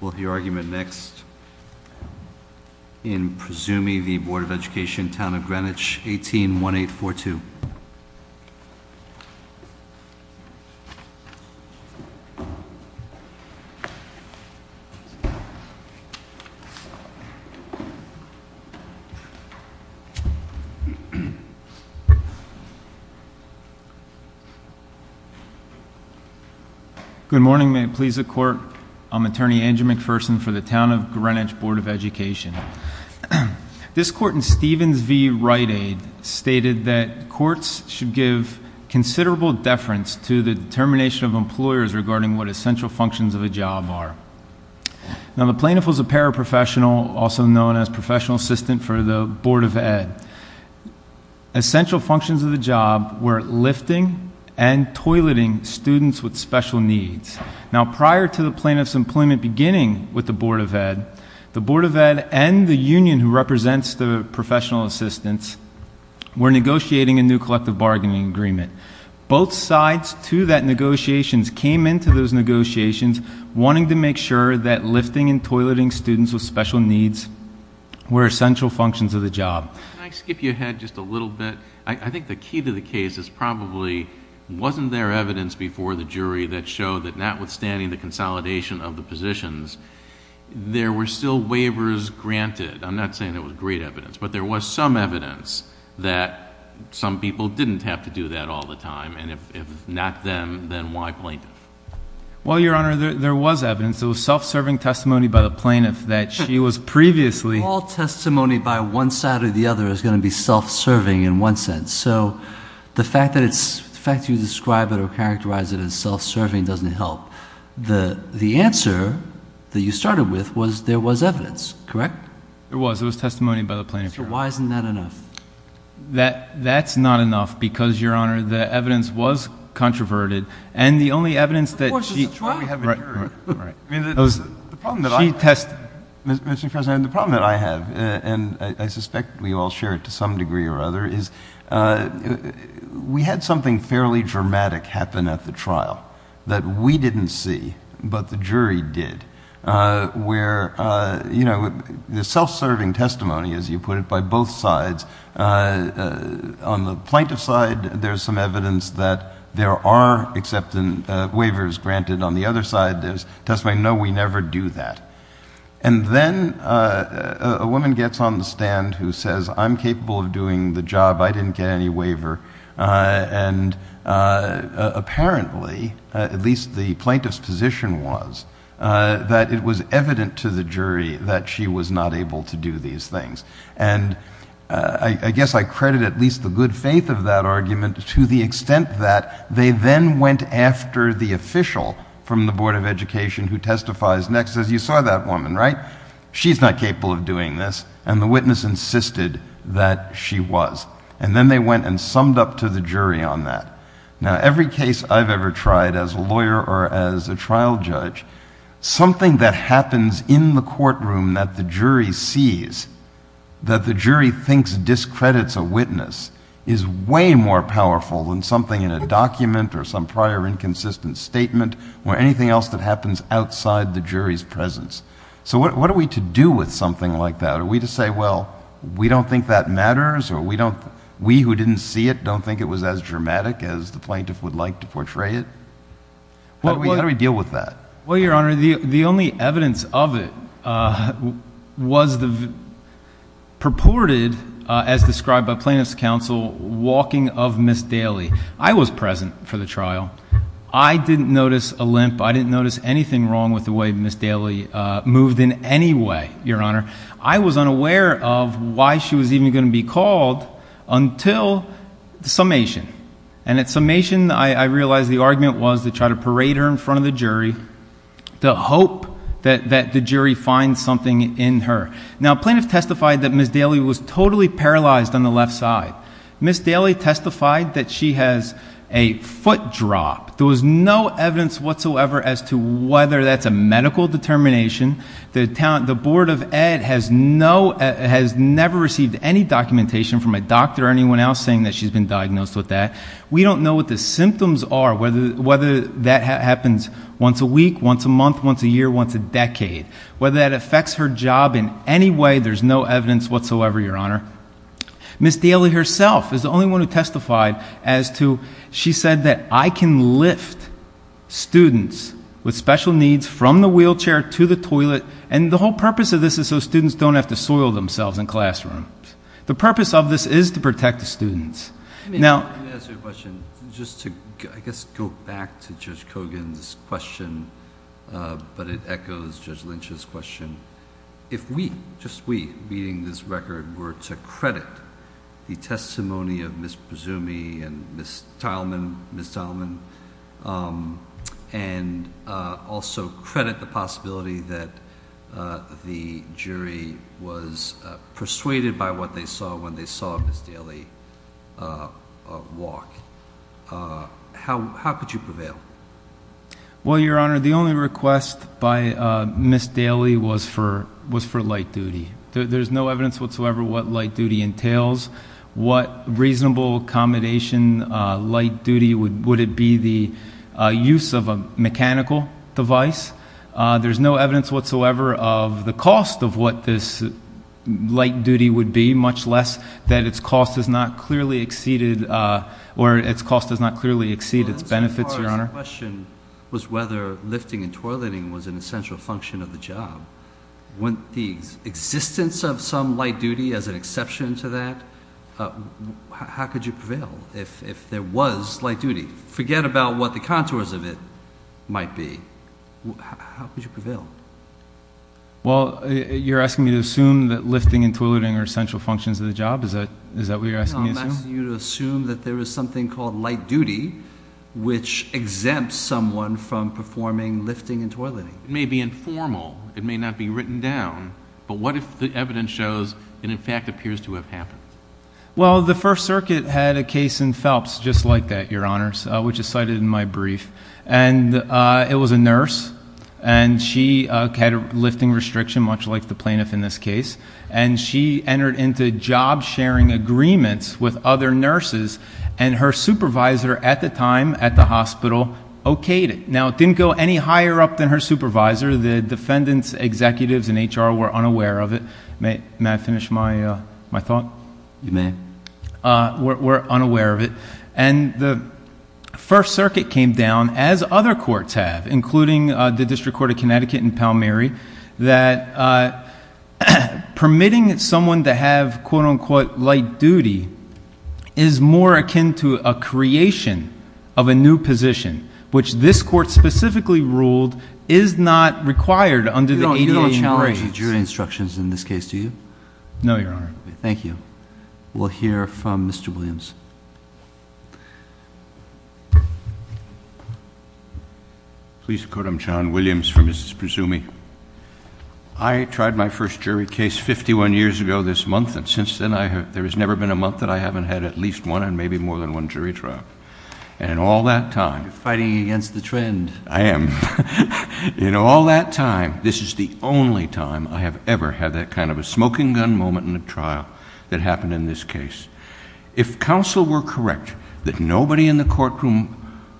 We'll hear argument next in Presumey v. Board of Education, Town of Greenwich, 18-1842. Good morning, may it please the court. I'm attorney Andrew McPherson for the Town of Greenwich Board of Education. This court in Stevens v. Rite Aid stated that courts should give considerable deference to the determination of employers regarding what essential functions of a job are. Now, the plaintiff was a paraprofessional, also known as professional assistant for the Board of Ed. Essential functions of the job were lifting and toileting students with special needs. Now, prior to the plaintiff's employment beginning with the Board of Ed, the Board of Ed and the union who represents the professional assistants were negotiating a new collective bargaining agreement. Both sides to that negotiations came into those negotiations wanting to make sure that lifting and toileting students with special needs were essential functions of the job. Can I skip you ahead just a little bit? I think the key to the case is probably wasn't there evidence before the jury that showed that notwithstanding the consolidation of the positions, there were still waivers granted. I'm not saying there was great evidence, but there was some evidence that some people didn't have to do that all the time. And if not them, then why plaintiff? Well, Your Honor, there was evidence. It was self-serving testimony by the plaintiff that she was previously- The other is going to be self-serving in one sense. So the fact that you describe it or characterize it as self-serving doesn't help. The answer that you started with was there was evidence, correct? There was. It was testimony by the plaintiff. So why isn't that enough? That's not enough because, Your Honor, the evidence was controverted. And the only evidence that she- Of course, it's a trial. Right, right. The problem that I have, and I suspect we all share it to some degree or other, is we had something fairly dramatic happen at the trial that we didn't see, but the jury did, where, you know, the self-serving testimony, as you put it, by both sides, on the plaintiff's side, there's some evidence that there are acceptance waivers granted. On the other side, there's testimony, no, we never do that. And then a woman gets on the stand who says, I'm capable of doing the job. I didn't get any waiver. And apparently, at least the plaintiff's position was, that it was evident to the jury that she was not able to do these things. And I guess I credit at least the good faith of that argument to the extent that they then went after the official from the Board of Education who testifies next, says, you saw that woman, right? She's not capable of doing this. And the witness insisted that she was. And then they went and summed up to the jury on that. Now, every case I've ever tried as a lawyer or as a trial judge, something that happens in the courtroom that the jury sees, that the jury thinks discredits a witness, is way more powerful than something in a document or some prior inconsistent statement or anything else that happens outside the jury's presence. So what are we to do with something like that? Are we to say, well, we don't think that matters, or we who didn't see it don't think it was as dramatic as the plaintiff would like to portray it? How do we deal with that? Well, Your Honor, the only evidence of it was the purported, as described by plaintiff's counsel, walking of Ms. Daly. I was present for the trial. I didn't notice a limp. I didn't notice anything wrong with the way Ms. Daly moved in any way, Your Honor. I was unaware of why she was even going to be called until the summation. And at summation, I realized the argument was to try to parade her in front of the jury to hope that the jury finds something in her. Now, plaintiff testified that Ms. Daly was totally paralyzed on the left side. Ms. Daly testified that she has a foot drop. There was no evidence whatsoever as to whether that's a medical determination. The Board of Ed has never received any documentation from a doctor or anyone else saying that she's been diagnosed with that. We don't know what the symptoms are, whether that happens once a week, once a month, once a year, once a decade. Whether that affects her job in any way, there's no evidence whatsoever, Your Honor. Ms. Daly herself is the only one who testified as to she said that I can lift students with special needs from the wheelchair to the toilet. And the whole purpose of this is so students don't have to soil themselves in classrooms. The purpose of this is to protect the students. Now- Let me ask you a question. Just to, I guess, go back to Judge Kogan's question, but it echoes Judge Lynch's question. If we, just we, reading this record were to credit the testimony of Ms. Prasumi and Ms. Tileman, Ms. Tileman, and also credit the possibility that the jury was persuaded by what they saw when they saw Ms. Daly walk, how could you prevail? Well, Your Honor, the only request by Ms. Daly was for light duty. There's no evidence whatsoever what light duty entails. What reasonable accommodation, light duty, would it be the use of a mechanical device? There's no evidence whatsoever of the cost of what this light duty would be, much less that its cost is not clearly exceeded, or its cost does not clearly exceed its benefits, Your Honor. The question was whether lifting and toileting was an essential function of the job. When the existence of some light duty as an exception to that, how could you prevail if there was light duty? Forget about what the contours of it might be. How could you prevail? Well, you're asking me to assume that lifting and toileting are essential functions of the job? Is that what you're asking me to assume? No, I'm asking you to assume that there is something called light duty which exempts someone from performing lifting and toileting. It may be informal, it may not be written down, but what if the evidence shows it in fact appears to have happened? Well, the First Circuit had a case in Phelps just like that, Your Honors, which is cited in my brief. And it was a nurse, and she had a lifting restriction, much like the plaintiff in this case. And she entered into job-sharing agreements with other nurses, and her supervisor at the time at the hospital okayed it. Now, it didn't go any higher up than her supervisor. The defendants, executives, and HR were unaware of it. May I finish my thought? You may. Were unaware of it. And the First Circuit came down, as other courts have, including the District Court of Connecticut and Palmyra, that permitting someone to have quote-unquote light duty is more akin to a creation of a new position, which this court specifically ruled is not required under the ADA. You don't challenge the jury instructions in this case, do you? No, Your Honor. Thank you. We'll hear from Mr. Williams. Please quote him, John Williams, for Mrs. Prisumi. I tried my first jury case 51 years ago this month, and since then there has never been a month that I haven't had at least one and maybe more than one jury trial. And in all that time— You're fighting against the trend. I am. In all that time, this is the only time I have ever had that kind of a smoking gun moment in a trial that happened in this case. If counsel were correct that nobody in the courtroom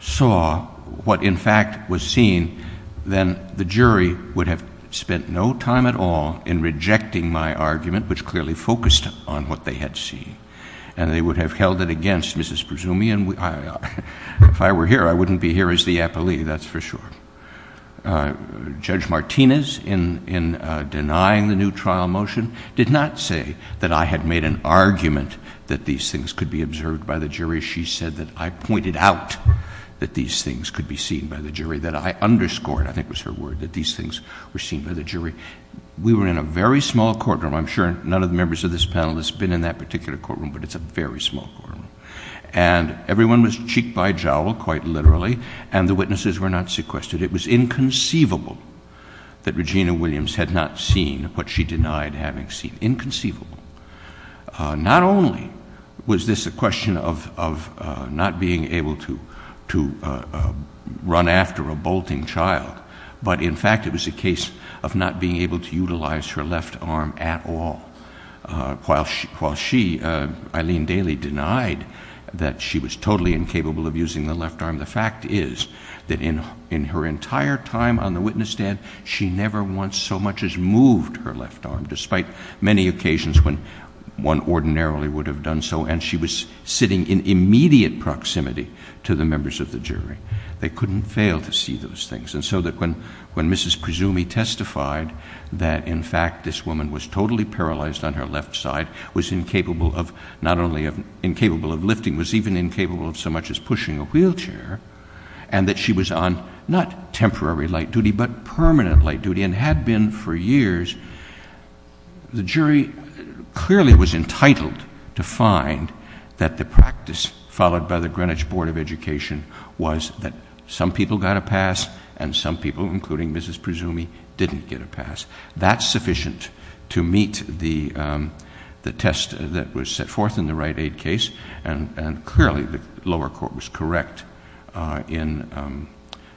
saw what in fact was seen, then the jury would have spent no time at all in rejecting my argument, which clearly focused on what they had seen. And they would have held it against Mrs. Prisumi, and if I were here, I wouldn't be here as the appellee, that's for sure. Judge Martinez, in denying the new trial motion, did not say that I had made an argument that these things could be observed by the jury. She said that I pointed out that these things could be seen by the jury, that I underscored, I think was her word, that these things were seen by the jury. We were in a very small courtroom. I'm sure none of the members of this panel has been in that particular courtroom, but it's a very small courtroom. And everyone was cheek by jowl, quite literally, and the witnesses were not sequestered. It was inconceivable that Regina Williams had not seen what she denied having seen. Inconceivable. Not only was this a question of not being able to run after a bolting child, but in fact it was a case of not being able to utilize her left arm at all. While she, Eileen Daly, denied that she was totally incapable of using the left arm, the fact is that in her entire time on the witness stand, she never once so much as moved her left arm, despite many occasions when one ordinarily would have done so, and she was sitting in immediate proximity to the members of the jury. They couldn't fail to see those things. And so that when Mrs. Prisumi testified that in fact this woman was totally paralyzed on her left side, was incapable of not only lifting, was even incapable of so much as pushing a wheelchair, and that she was on not temporary light duty, but permanent light duty, and had been for years, the jury clearly was entitled to find that the practice followed by the Greenwich Board of Education was that some people got a pass and some people, including Mrs. Prisumi, didn't get a pass. That's sufficient to meet the test that was set forth in the right aid case, and clearly the lower court was correct in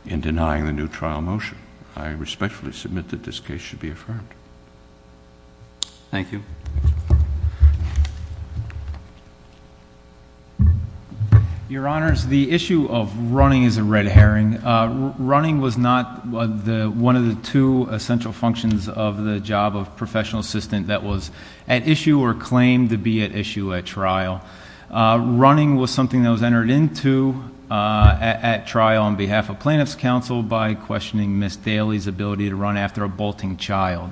denying the new trial motion. I respectfully submit that this case should be affirmed. Thank you. Your Honors, the issue of running is a red herring. Running was not one of the two essential functions of the job of professional assistant that was at issue or claimed to be at issue at trial. Running was something that was entered into at trial on behalf of plaintiff's counsel by questioning Ms. Daly's ability to run after a bolting child.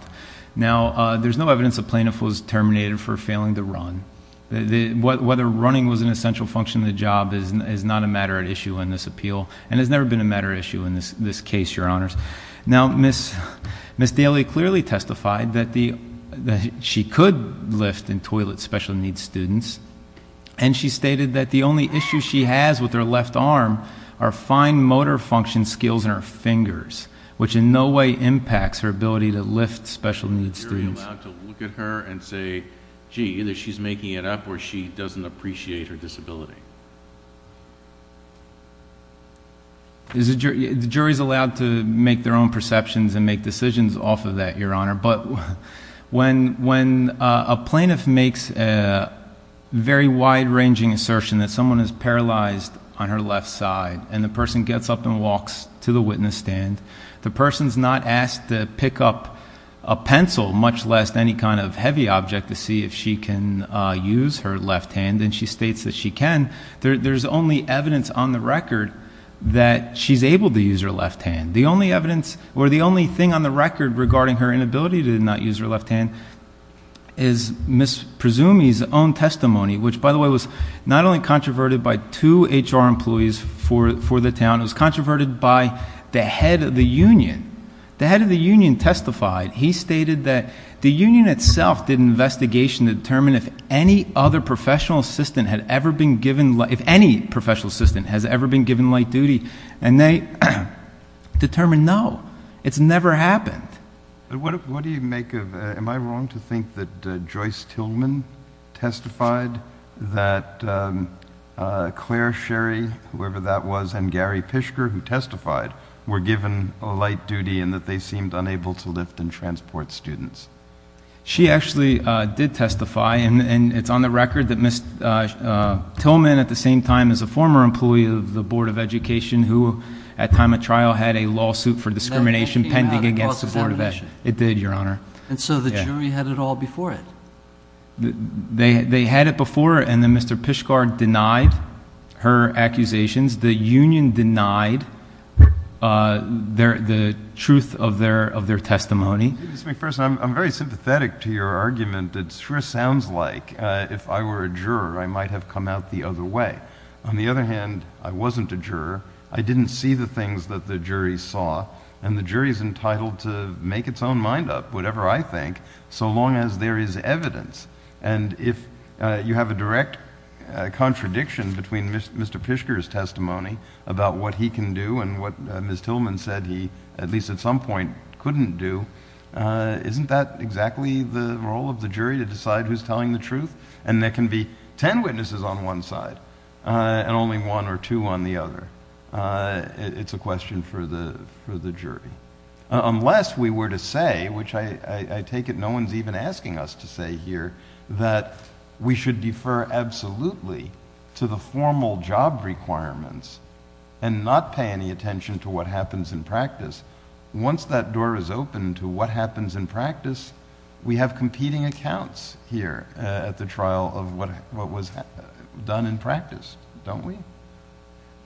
Now, there's no evidence a plaintiff was terminated for failing to run. Whether running was an essential function of the job is not a matter at issue in this appeal, and has never been a matter at issue in this case, Your Honors. Now, Ms. Daly clearly testified that she could lift in toilet special needs students, and she stated that the only issue she has with her left arm are fine motor function skills in her fingers, which in no way impacts her ability to lift special needs students. Is the jury allowed to look at her and say, gee, either she's making it up or she doesn't appreciate her disability? The jury is allowed to make their own perceptions and make decisions off of that, Your Honor. But when a plaintiff makes a very wide-ranging assertion that someone is paralyzed on her left side, and the person gets up and walks to the witness stand, the person's not asked to pick up a pencil, much less any kind of heavy object, to see if she can use her left hand, and she states that she can. There's only evidence on the record that she's able to use her left hand. The only evidence, or the only thing on the record regarding her inability to not use her left hand is Ms. Presumi's own testimony, which, by the way, was not only controverted by two HR employees for the town, it was controverted by the head of the union. The head of the union testified. He stated that the union itself did an investigation to determine if any other professional assistant had ever been given, if any professional assistant has ever been given light duty, and they determined no. It's never happened. What do you make of, am I wrong to think that Joyce Tillman testified that Claire Sherry, whoever that was, and Gary Pishker, who testified, were given light duty and that they seemed unable to lift and transport students? She actually did testify, and it's on the record that Ms. Tillman, at the same time as a former employee of the Board of Education, who at time of trial had a lawsuit for discrimination pending against the Board of Education. It did, Your Honor. And so the jury had it all before it? They had it before, and then Mr. Pishker denied her accusations. The union denied the truth of their testimony. Mr. McPherson, I'm very sympathetic to your argument. It sure sounds like if I were a juror, I might have come out the other way. On the other hand, I wasn't a juror. I didn't see the things that the jury saw, and the jury's entitled to make its own mind up, whatever I think, so long as there is evidence. And if you have a direct contradiction between Mr. Pishker's testimony about what he can do and what Ms. Tillman said he, at least at some point, couldn't do, isn't that exactly the role of the jury to decide who's telling the truth? And there can be ten witnesses on one side, and only one or two on the other. It's a question for the jury. Unless we were to say, which I take it no one's even asking us to say here, that we should defer absolutely to the formal job requirements and not pay any attention to what happens in practice, once that door is open to what happens in practice, we have competing accounts here at the trial of what was done in practice, don't we?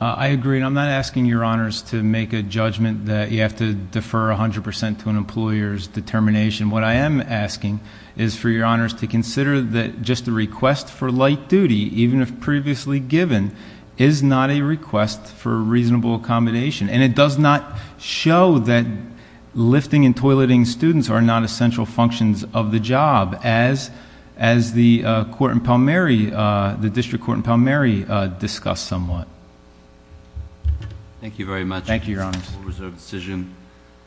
I agree, and I'm not asking Your Honors to make a judgment that you have to defer 100% to an employer's determination. What I am asking is for Your Honors to consider that just a request for light duty, even if previously given, is not a request for reasonable accommodation. And it does not show that lifting and toileting students are not essential functions of the job, as the District Court in Palmyra discussed somewhat. Thank you very much. Thank you, Your Honors.